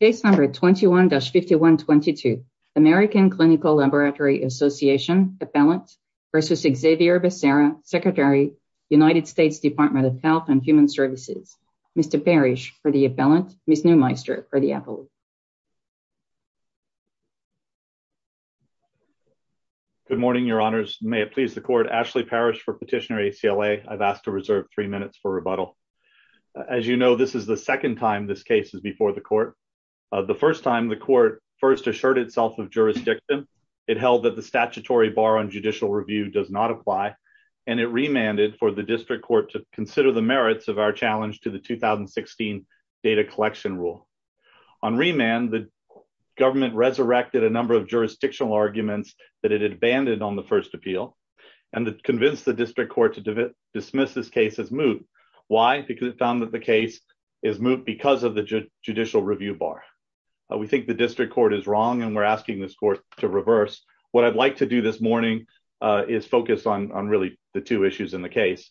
Case No. 21-5122 American Clinical Laboratory Association Appellant v. Xavier Becerra, Secretary, United States Department of Health and Human Services. Mr. Parrish for the appellant, Ms. Neumeister for the appellant. Good morning, your honors. May it please the court, Ashley Parrish for petitioner ACLA. I've asked to reserve three minutes for rebuttal. As you know, this is the second time this case is the court. The first time the court first assured itself of jurisdiction, it held that the statutory bar on judicial review does not apply, and it remanded for the district court to consider the merits of our challenge to the 2016 data collection rule. On remand, the government resurrected a number of jurisdictional arguments that it had abandoned on the first appeal and convinced the district court to dismiss this case as moot. Why? Because it found that the case is bar. We think the district court is wrong, and we're asking this court to reverse. What I'd like to do this morning is focus on really the two issues in the case.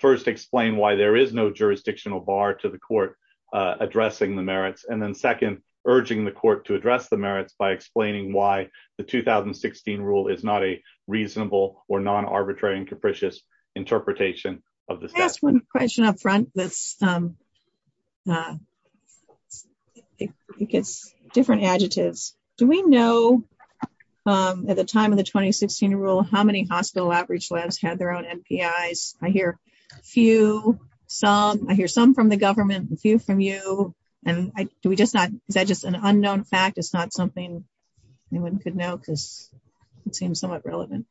First, explain why there is no jurisdictional bar to the court addressing the merits. And then second, urging the court to address the merits by explaining why the 2016 rule is not a reasonable or non-arbitrary and capricious interpretation of the statute. Can I ask one question up front? It's different adjectives. Do we know, at the time of the 2016 rule, how many hospital outreach labs had their own MPIs? I hear a few, some. I hear some from the government, a few from you. Is that just an unknown fact? It's not something anyone could know because it seems somewhat relevant.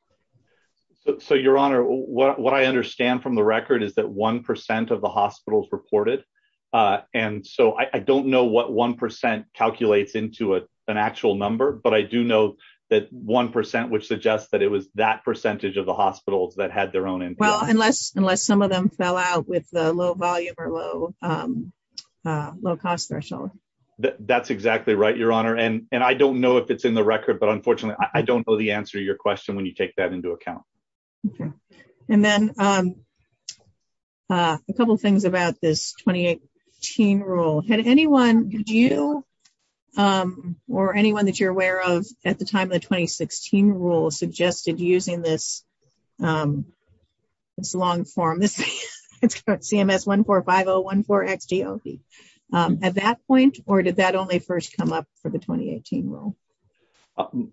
So, Your Honor, what I understand from the record is that one percent of the hospitals reported, and so I don't know what one percent calculates into an actual number, but I do know that one percent would suggest that it was that percentage of the hospitals that had their own MPIs. Well, unless some of them fell out with the low volume or low cost threshold. That's exactly right, Your Honor, and I don't know if it's in the record, but unfortunately I don't know the answer to your question when you take that into account. Okay, and then a couple things about this 2018 rule. Had anyone, did you or anyone that you're aware of, at the time of the 2016 rule, suggested using this long form CMS 145014XGOP at that point, or did that only first come up for the 2018 rule?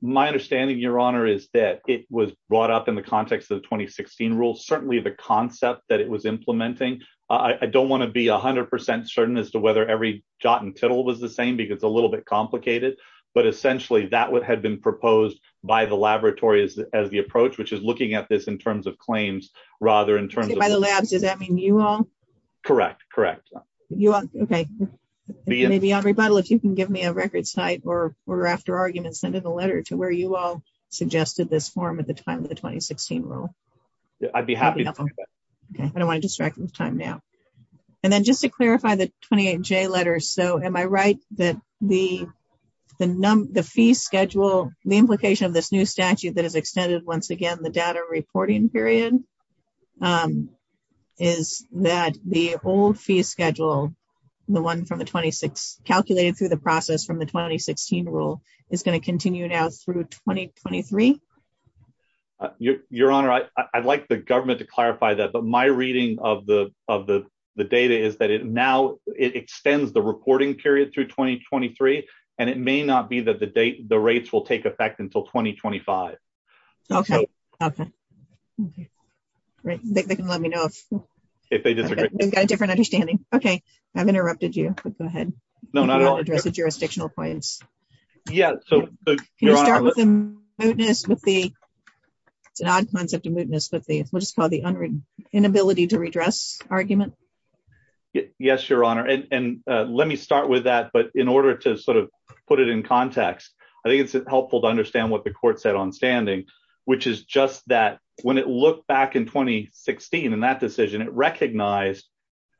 My understanding, Your Honor, is that it was brought up in the context of the 2016 rule. Certainly the concept that it was implementing, I don't want to be 100% certain as to whether every jot and tittle was the same because it's a little bit complicated, but essentially that would have been proposed by the laboratories as the approach, which is looking at this in terms of claims rather in terms of... By the labs, does that mean you all? Correct, correct. Okay, maybe on rebuttal, if you can give me a record site or after argument, send in a letter to where you all suggested this form at the time of the 2016 rule. I'd be happy to. Okay, I don't want to distract you with time now. And then just to clarify the 28J letters, so am I right that the fee schedule, the implication of this new statute that extended, once again, the data reporting period, is that the old fee schedule, the one calculated through the process from the 2016 rule, is going to continue now through 2023? Your Honor, I'd like the government to clarify that, but my reading of the data is that now it extends the reporting period through 2023, and it may not be that the rates will take effect until 2025. Okay, okay. They can let me know if they disagree. We've got a different understanding. Okay, I've interrupted you, but go ahead. No, not at all. I want to address the jurisdictional points. Yeah, so... Can you start with the... It's an odd concept of mootness, but we'll just call it the inability to redress argument. Yes, Your Honor. And let me start with that, but in order to sort of put it in context, I think it's helpful to understand what the court said on standing, which is just that when it looked back in 2016, in that decision, it recognized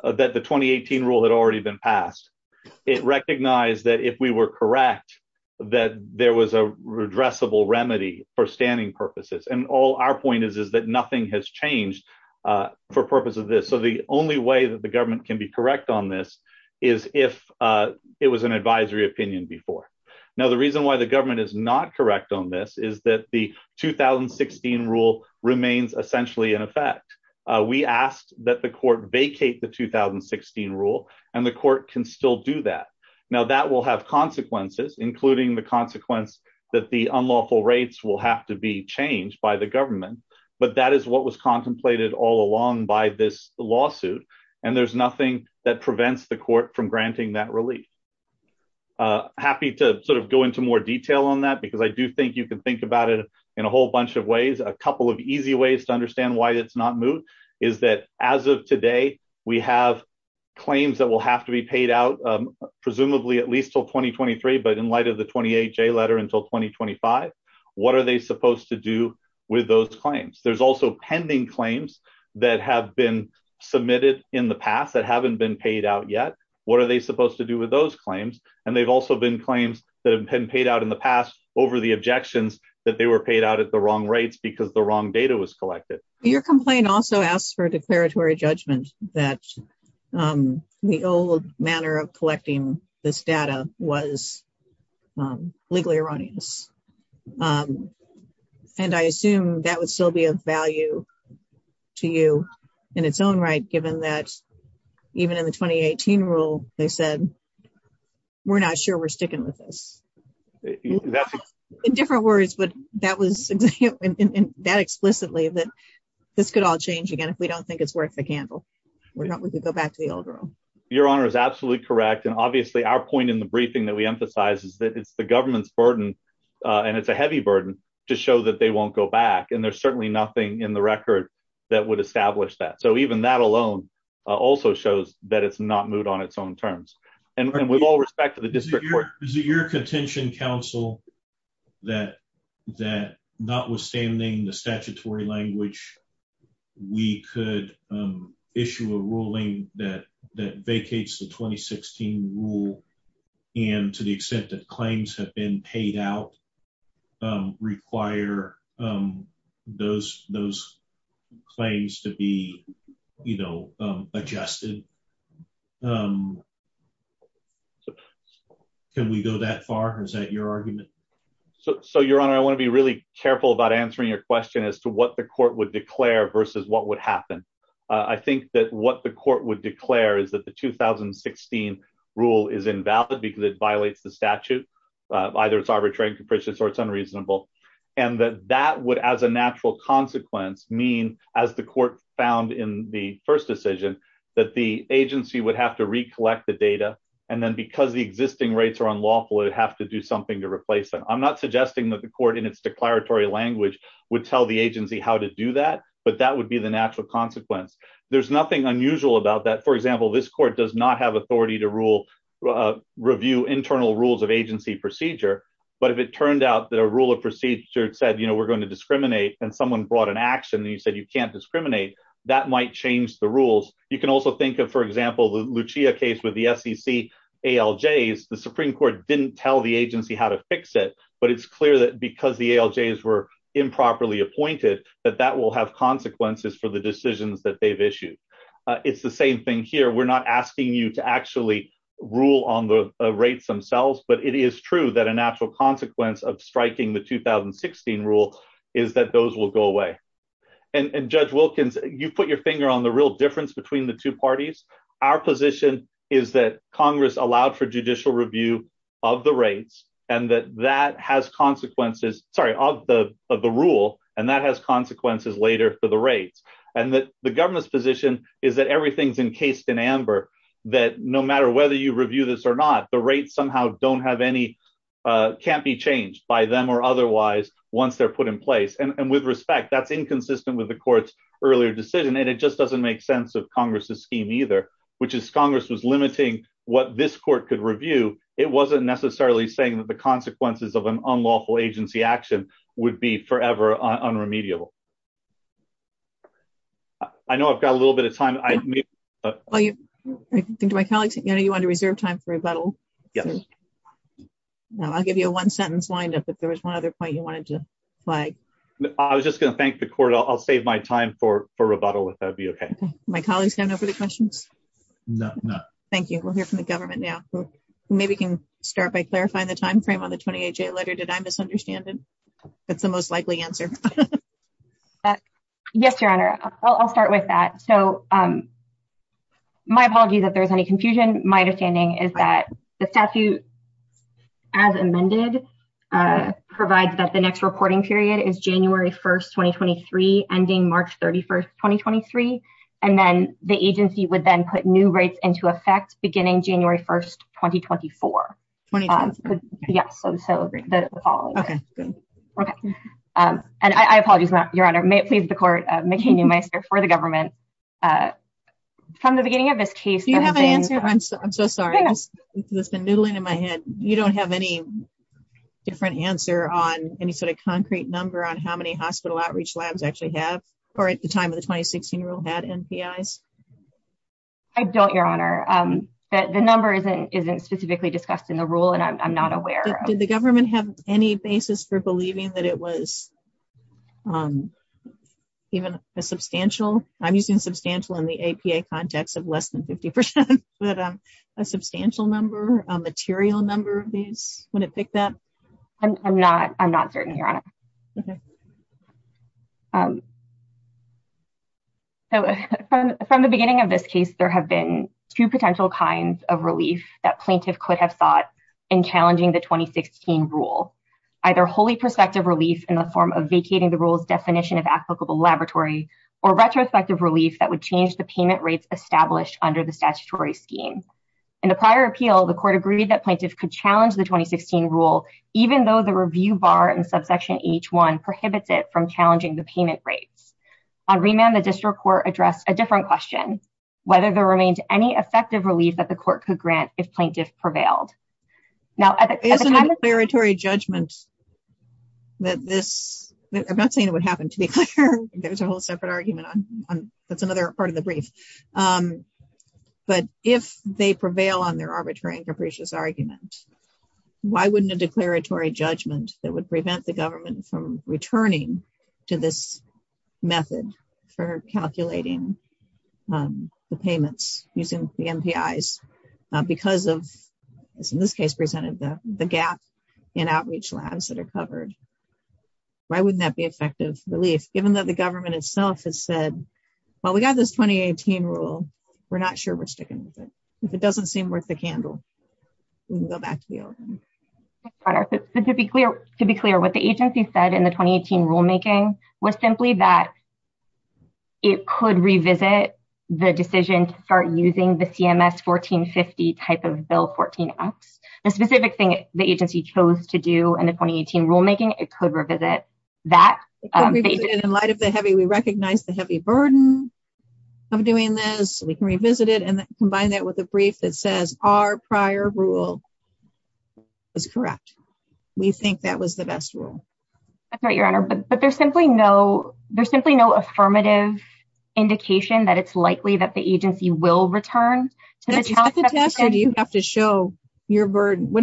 that the 2018 rule had already been passed. It recognized that if we were correct, that there was a redressable remedy for standing purposes. And all our point is is that nothing has changed for purpose of this. So the only way that the government can be correct on this is if it was an advisory opinion before. Now, the reason why the government is not correct on this is that the 2016 rule remains essentially in effect. We asked that the court vacate the 2016 rule, and the court can still do that. Now, that will have consequences, including the consequence that the unlawful rates will have to be changed by the government, but that is what was contemplated all along by this lawsuit. And there's nothing that prevents the court from granting that relief. Happy to sort of go into more detail on that, because I do think you can think about it in a whole bunch of ways. A couple of easy ways to understand why it's not moot is that as of today, we have claims that will have to be paid out, presumably at least till 2023. But in light of the 28 J letter until 2025, what are they supposed to do with those claims? There's also pending claims that have been submitted in the past that haven't been paid out yet. What are they supposed to do with those claims? And they've also been claims that have been paid out in the past over the objections that they were paid out at the wrong rates because the wrong data was collected. Your complaint also asks for a declaratory judgment that the old manner of collecting this data was legally erroneous. And I assume that would still be of value to you in its own right, given that even in the 2018 rule, they said, we're not sure we're sticking with this. In different words, but that was that explicitly that this could all change again if we don't think it's worth the candle. We're not we could back to the old rule. Your honor is absolutely correct. And obviously, our point in the briefing that we emphasize is that it's the government's burden. And it's a heavy burden to show that they won't go back. And there's certainly nothing in the record that would establish that. So even that alone, also shows that it's not moved on its own terms. And with all respect to the district, your your contention counsel, that that notwithstanding the statutory language, we could issue a ruling that that vacates the 2016 rule. And to the extent that claims have been paid out, require those those claims to be, you know, adjusted. Can we go that far? Is that your argument? So your honor, I want to be really careful about answering your question as to what the court would declare versus what would happen. I think that what the court would declare is that the 2016 rule is invalid, because it violates the statute. Either it's arbitrary and capricious, or it's unreasonable. And that that would as a natural consequence mean, as the court found in the first decision, that the agency would have to recollect the data. And then because the existing rates are unlawful, it'd have to do to replace them. I'm not suggesting that the court in its declaratory language would tell the agency how to do that. But that would be the natural consequence. There's nothing unusual about that. For example, this court does not have authority to rule, review internal rules of agency procedure. But if it turned out that a rule of procedure said, you know, we're going to discriminate, and someone brought an action, and you said, you can't discriminate, that might change the rules. You can also think of, for example, the Lucia case with the SEC ALJs, the Supreme Court didn't tell the agency how to fix it. But it's clear that because the ALJs were improperly appointed, that that will have consequences for the decisions that they've issued. It's the same thing here. We're not asking you to actually rule on the rates themselves. But it is true that a natural consequence of striking the 2016 rule is that those will go away. And Judge Wilkins, you've put your finger on the real difference between the two parties. Our position is that Congress allowed for judicial review of the rates, and that that has consequences, sorry, of the rule, and that has consequences later for the rates. And that the government's position is that everything's encased in amber, that no matter whether you review this or not, the rates somehow don't have any, can't be changed by them or otherwise, once they're put in place. And with respect, that's inconsistent with the court's earlier decision. And it just doesn't make sense of Congress's scheme either, which is Congress was limiting what this court could review. It wasn't necessarily saying that the consequences of an unlawful agency action would be forever unremediable. I know I've got a little bit of time. Well, I think to my colleagues, you know, you want to reserve time for rebuttal? Yes. No, I'll give you a one sentence lined up. If there was one other point you wanted to flag. I was just going to thank the court. I'll save my time for rebuttal if that'd be okay. My colleagues don't know for the questions? No, no. Thank you. We'll hear from the government now. Maybe we can start by clarifying the timeframe on the 20HA letter. Did I misunderstand it? That's the most likely answer. Yes, Your Honor. I'll start with that. So my apology that there's any confusion. My statute, as amended, provides that the next reporting period is January 1st, 2023, ending March 31st, 2023. And then the agency would then put new rates into effect beginning January 1st, 2024. Yes, so the following. And I apologize, Your Honor. May it please the court, McCain-Newmeister, for the government. From the beginning of this case, I'm so sorry. This has been noodling in my head. You don't have any different answer on any sort of concrete number on how many hospital outreach labs actually have, or at the time of the 2016 rule, had NPIs? I don't, Your Honor. The number isn't specifically discussed in the rule, and I'm not aware. Did the government have any basis for believing that it was on even a substantial? I'm using substantial in the APA context of less than 50%, but a substantial number, a material number of these? Would it pick that? I'm not. I'm not certain, Your Honor. So from the beginning of this case, there have been two potential kinds of relief that plaintiff could have sought in challenging the 2016 rule. Either wholly prospective relief in the form of the rule's definition of applicable laboratory, or retrospective relief that would change the payment rates established under the statutory scheme. In the prior appeal, the court agreed that plaintiff could challenge the 2016 rule, even though the review bar in subsection H-1 prohibits it from challenging the payment rates. On remand, the district court addressed a different question, whether there remained any effective relief that the court could grant if plaintiff prevailed. Now, at the time of- I'm not saying it would happen, to be clear. There's a whole separate argument on- that's another part of the brief. But if they prevail on their arbitrary and capricious argument, why wouldn't a declaratory judgment that would prevent the government from returning to this method for calculating the payments using the MPIs because of, as in this case presented, the gap in outreach labs that are covered? Why wouldn't that be effective relief, given that the government itself has said, well, we got this 2018 rule. We're not sure we're sticking with it. If it doesn't seem worth the candle, we can go back to the old one. To be clear, what the agency said in the 2018 rulemaking was simply that it could revisit the decision to start using the CMS 1450 type of Bill 14X. The specific thing the agency chose to do in the 2018 rulemaking, it could revisit that. In light of the heavy- we recognize the heavy burden of doing this. We can revisit it and combine that with a brief that says our prior rule was correct. We think that was the best rule. That's right, Your Honor. But it's likely that the agency will return. What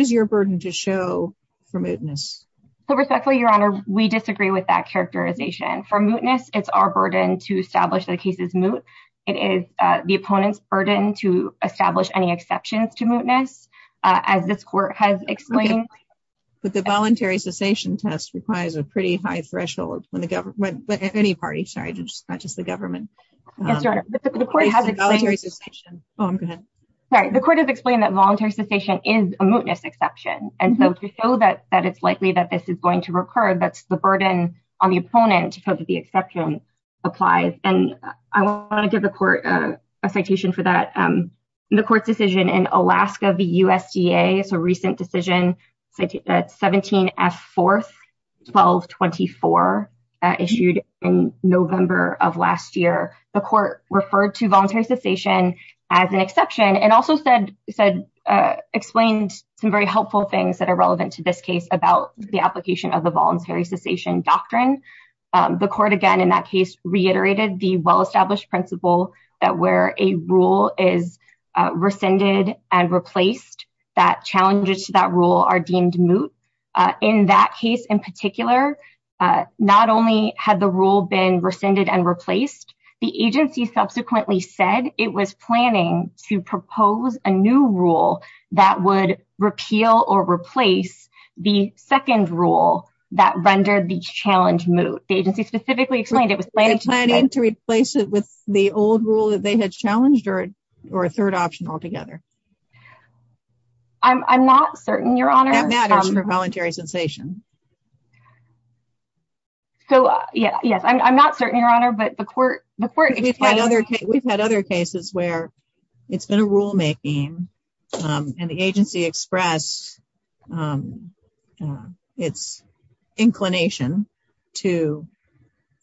is your burden to show for mootness? Respectfully, Your Honor, we disagree with that characterization. For mootness, it's our burden to establish that a case is moot. It is the opponent's burden to establish any exceptions to mootness, as this court has explained. But the voluntary cessation test requires a pretty government- Yes, Your Honor. The court has explained that voluntary cessation is a mootness exception. To show that it's likely that this is going to recur, that's the burden on the opponent to show that the exception applies. I want to give the court a citation for that. The court's court referred to voluntary cessation as an exception and also explained some very helpful things that are relevant to this case about the application of the voluntary cessation doctrine. The court, again, in that case, reiterated the well-established principle that where a rule is rescinded and replaced, that challenges to that rule are deemed moot. In that case, in particular, not only had the rule been rescinded and replaced, the agency subsequently said it was planning to propose a new rule that would repeal or replace the second rule that rendered the challenge moot. The agency specifically explained it was planning- They're planning to replace it with the old rule that they had challenged or a third option altogether. I'm not certain, Your Honor. That matters for voluntary cessation. So, yes. I'm not certain, Your Honor, but the court- We've had other cases where it's been a rule-making and the agency expressed its inclination to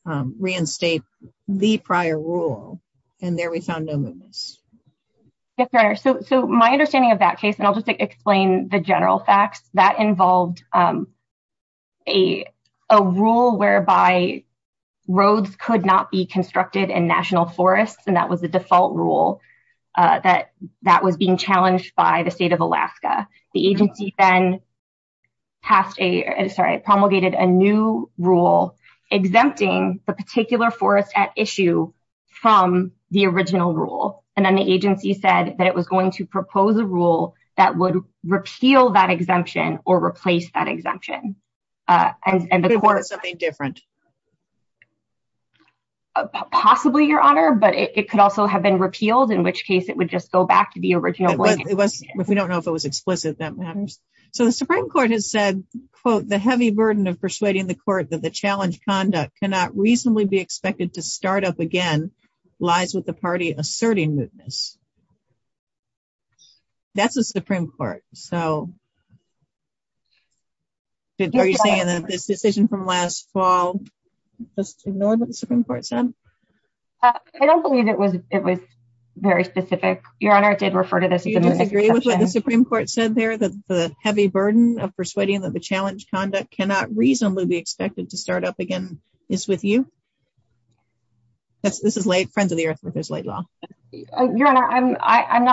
reinstate the prior rule and there we found no mootness. Yes, Your Honor. My understanding of that case, and I'll just explain the general facts, that involved a rule whereby roads could not be constructed in national forests and that was the default rule that was being challenged by the state of Alaska. The agency then promulgated a new rule exempting the particular forest at issue from the original rule and then agency said that it was going to propose a rule that would repeal that exemption or replace that exemption. And the court- Something different. Possibly, Your Honor, but it could also have been repealed, in which case it would just go back to the original ruling. If we don't know if it was explicit, that matters. So, the Supreme Court has said, quote, the heavy burden of persuading the court that the challenge conduct cannot reasonably be expected to start up again lies with the party asserting mootness. That's the Supreme Court. So, are you saying that this decision from last fall, just ignored what the Supreme Court said? I don't believe it was very specific. Your Honor, it did refer to this- Do you disagree with what the Supreme Court said there, that the heavy burden of persuading that the challenge conduct cannot reasonably be expected to start up again is with you? This is late, friends of the earth, but there's late law. Your Honor, I'm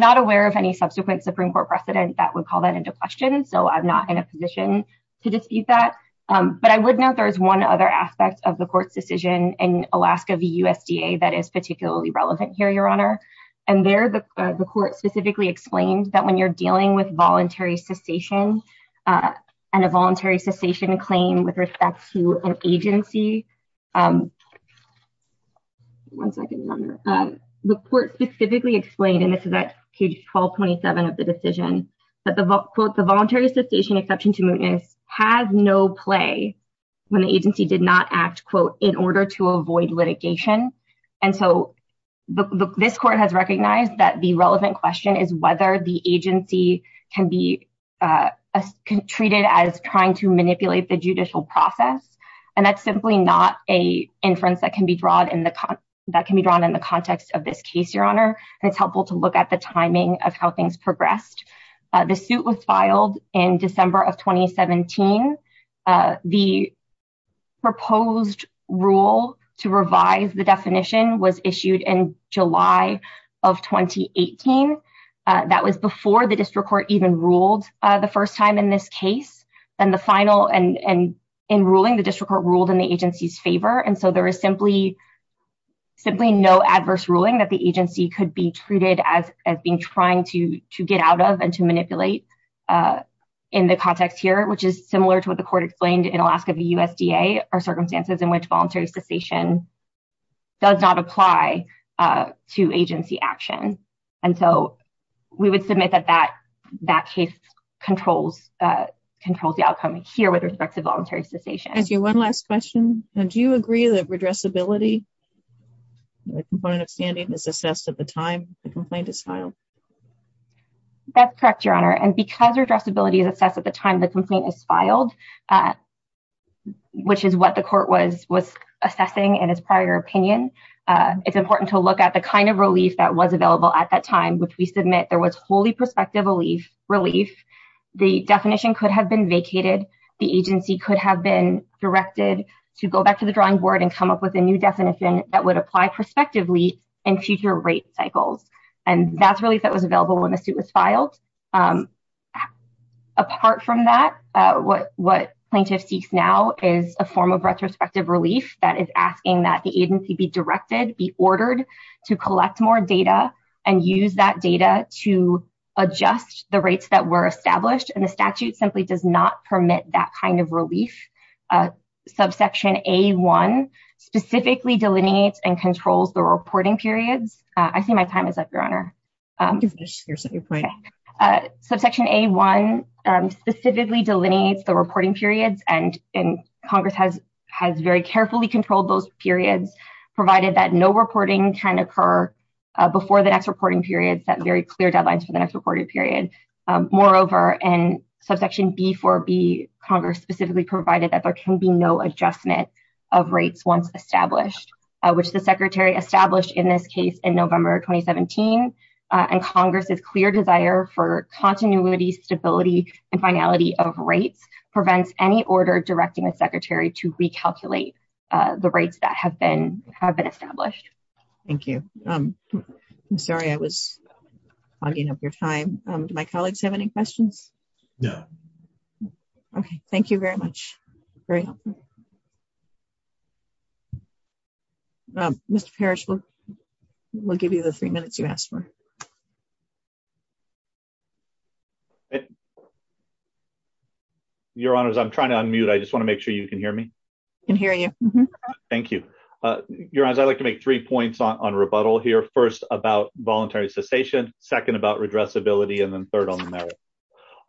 not aware of any subsequent Supreme Court precedent that would call that into question, so I'm not in a position to dispute that. But I would note there is one other aspect of the court's decision in Alaska v. USDA that is particularly relevant here, Your Honor. And there, the court specifically explained that when you're dealing with voluntary cessation claim with respect to an agency- One second, Your Honor. The court specifically explained, and this is at page 1227 of the decision, that the, quote, the voluntary cessation exception to mootness has no play when the agency did not act, quote, in order to avoid litigation. And so, this court has recognized that the relevant question is whether the agency can be treated as trying to manipulate the judicial process. And that's simply not an inference that can be drawn in the context of this case, Your Honor. And it's helpful to look at the timing of how things progressed. The suit was filed in December of 2017. The proposed rule to revise the definition was issued in July of 2018. That was before the district court even ruled the first time in this case. And in ruling, the district court ruled in the agency's favor. And so, there is simply no adverse ruling that the agency could be treated as being trying to get out of and to manipulate in the context here, which is similar to what the court explained in Alaska v. USDA are circumstances in which voluntary cessation does not apply to agency action. And so, we would submit that that case controls the outcome here with respect to voluntary cessation. Thank you. One last question. Do you agree that redressability, the component of standing, is assessed at the time the complaint is filed? That's correct, Your Honor. And because redressability is assessed at the time the complaint is filed, which is what the court was assessing in its prior opinion, it's important to look at the kind of relief that was available at that time, which we submit there was wholly prospective relief. The definition could have been vacated. The agency could have been directed to go back to the drawing board and come up with a new definition that would apply prospectively in future rate cycles. And that's relief that was available when the suit was filed. Apart from that, what plaintiff seeks now is a form of retrospective relief that is asking that agency be directed, be ordered to collect more data and use that data to adjust the rates that were established. And the statute simply does not permit that kind of relief. Subsection A-1 specifically delineates and controls the reporting periods. I see my time is up, Your Honor. Subsection A-1 specifically delineates the reporting periods, and Congress has very carefully controlled those periods, provided that no reporting can occur before the next reporting period, set very clear deadlines for the next reporting period. Moreover, in subsection B-4B, Congress specifically provided that there can be no adjustment of rates once established, which the Secretary established in this case in November 2017. And Congress's clear desire for continuity, stability, and finality of rates prevents any directing a Secretary to recalculate the rates that have been established. Thank you. I'm sorry I was hogging up your time. Do my colleagues have any questions? No. Okay. Thank you very much. Very helpful. Mr. Parrish, we'll give you the three minutes you asked for. Okay. Your Honors, I'm trying to unmute. I just want to make sure you can hear me. I can hear you. Thank you. Your Honors, I'd like to make three points on rebuttal here. First, about voluntary cessation. Second, about redressability. And then third, on the merits.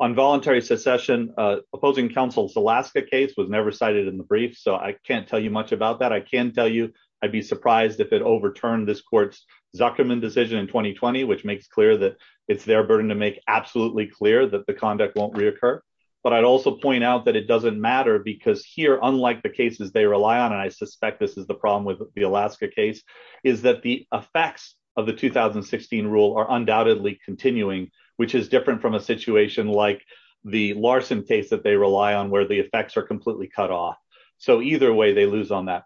On voluntary secession, opposing counsel's Alaska case was never cited in the brief, so I can't tell you much about that. I can tell you I'd be surprised if it overturned this court's decision in 2020, which makes clear that it's their burden to make absolutely clear that the conduct won't reoccur. But I'd also point out that it doesn't matter because here, unlike the cases they rely on, and I suspect this is the problem with the Alaska case, is that the effects of the 2016 rule are undoubtedly continuing, which is different from a situation like the Larson case that they rely on where the effects are completely cut off. So either way, they lose on that.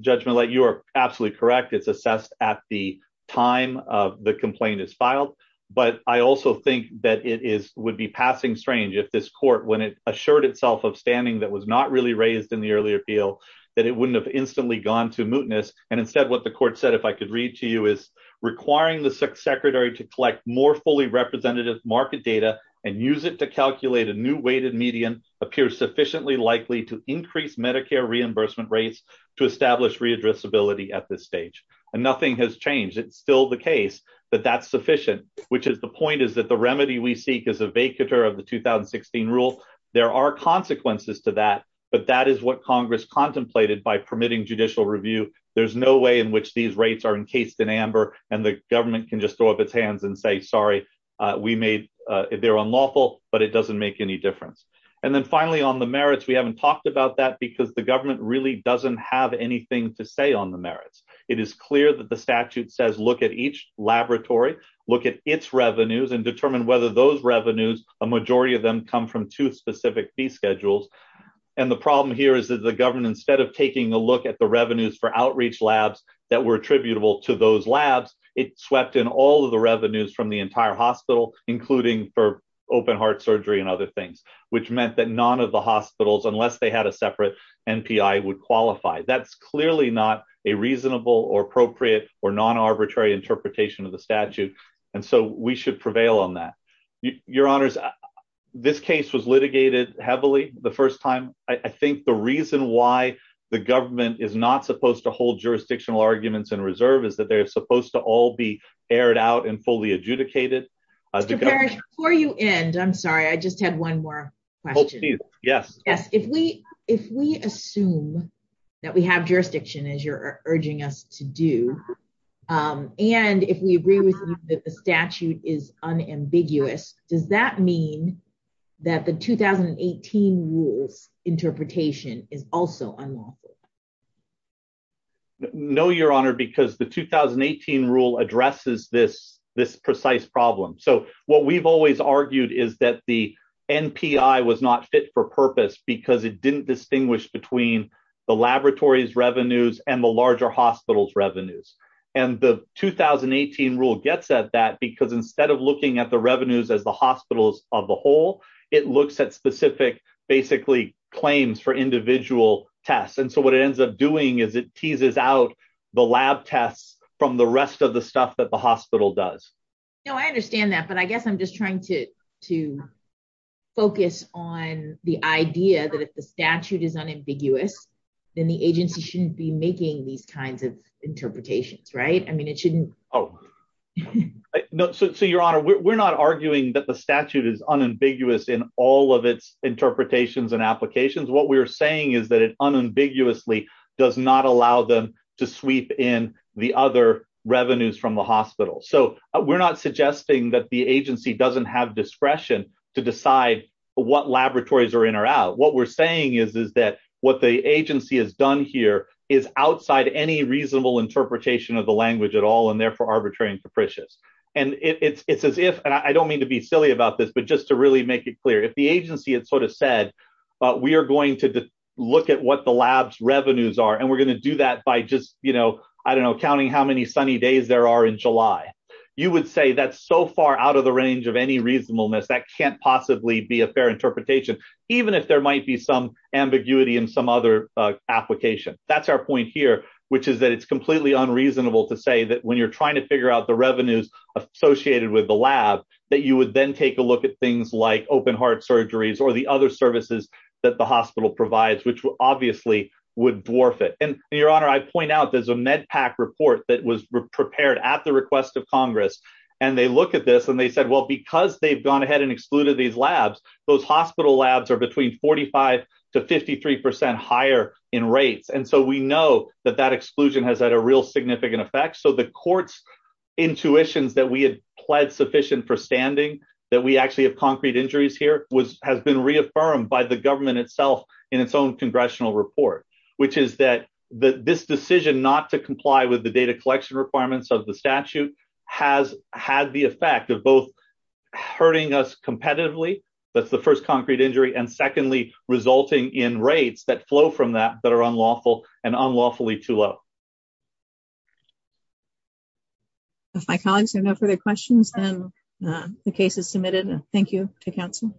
Judge Millet, you are absolutely correct. It's assessed at the time the complaint is filed. But I also think that it would be passing strange if this court, when it assured itself of standing that was not really raised in the earlier appeal, that it wouldn't have instantly gone to mootness. And instead, what the court said, if I could read to you, is requiring the secretary to collect more fully representative market data and use it to calculate a new weighted median appears sufficiently likely to increase Medicare reimbursement rates to establish readdressability at this stage. And nothing has changed. It's still the case that that's sufficient, which is the point is that the remedy we seek is a vacatur of the 2016 rule. There are consequences to that, but that is what Congress contemplated by permitting judicial review. There's no way in which these rates are encased in amber and the government can just throw up its hands and say, sorry, they're unlawful, but it doesn't make any difference. And then finally, on the merits, we haven't talked about that because the government really doesn't have anything to say on the merits. It is clear that the statute says, look at each laboratory, look at its revenues and determine whether those revenues, a majority of them come from two specific fee schedules. And the problem here is that the government, instead of taking a look at the revenues for outreach labs that were attributable to those labs, it swept in all of the revenues from the entire hospital, including for open heart surgery and other things, which meant that none of the hospitals, unless they had a separate NPI would qualify. That's clearly not a reasonable or appropriate or non-arbitrary interpretation of the statute. And so we should prevail on that. Your honors, this case was litigated heavily the first time. I think the reason why the government is not supposed to hold jurisdictional arguments in reserve is that they're supposed to all be aired out and fully adjudicated. Mr. Parrish, before you end, I'm sorry, I just had one more question. Oh, please. Yes. Yes. If we assume that we have jurisdiction as you're urging us to do, and if we agree with you that the statute is unambiguous, does that mean that the 2018 rules interpretation is also unlawful? No, your honor, because the 2018 rule addresses this precise problem. So what we've always argued is that the NPI was not fit for purpose because it didn't distinguish between the laboratory's revenues and the larger hospital's revenues. And the 2018 rule gets at that because instead of looking at the revenues as the hospitals of the whole, it looks at specific basically for individual tests. And so what it ends up doing is it teases out the lab tests from the rest of the stuff that the hospital does. No, I understand that, but I guess I'm just trying to focus on the idea that if the statute is unambiguous, then the agency shouldn't be making these kinds of interpretations, right? I mean, it shouldn't. Oh, no. So your honor, we're not arguing that the statute is unambiguous in all of its interpretations and applications. What we're saying is that it unambiguously does not allow them to sweep in the other revenues from the hospital. So we're not suggesting that the agency doesn't have discretion to decide what laboratories are in or out. What we're saying is that what the agency has done here is outside any reasonable interpretation of the language at all and therefore arbitrary and capricious. And it's as if, and I don't mean to be silly about this, just to really make it clear, if the agency had sort of said, we are going to look at what the lab's revenues are, and we're going to do that by just, I don't know, counting how many sunny days there are in July. You would say that's so far out of the range of any reasonableness that can't possibly be a fair interpretation, even if there might be some ambiguity in some other application. That's our point here, which is that it's completely unreasonable to say that when you're trying to figure out the revenues associated with the lab, that you would then take a look at things like open heart surgeries or the other services that the hospital provides, which obviously would dwarf it. And your honor, I point out there's a MedPAC report that was prepared at the request of Congress. And they look at this and they said, well, because they've gone ahead and excluded these labs, those hospital labs are between 45 to 53% higher in rates. And so we know that that exclusion has had a real significant effect. So the court's intuitions that we had pled sufficient for standing, that we actually have concrete injuries here, has been reaffirmed by the government itself in its own congressional report, which is that this decision not to comply with the data collection requirements of the statute has had the effect of both hurting us competitively, that's the first concrete injury, and secondly, resulting in rates that flow from that that are unlawful and unlawfully too low. If my colleagues have no further questions, then the case is submitted. Thank you to council.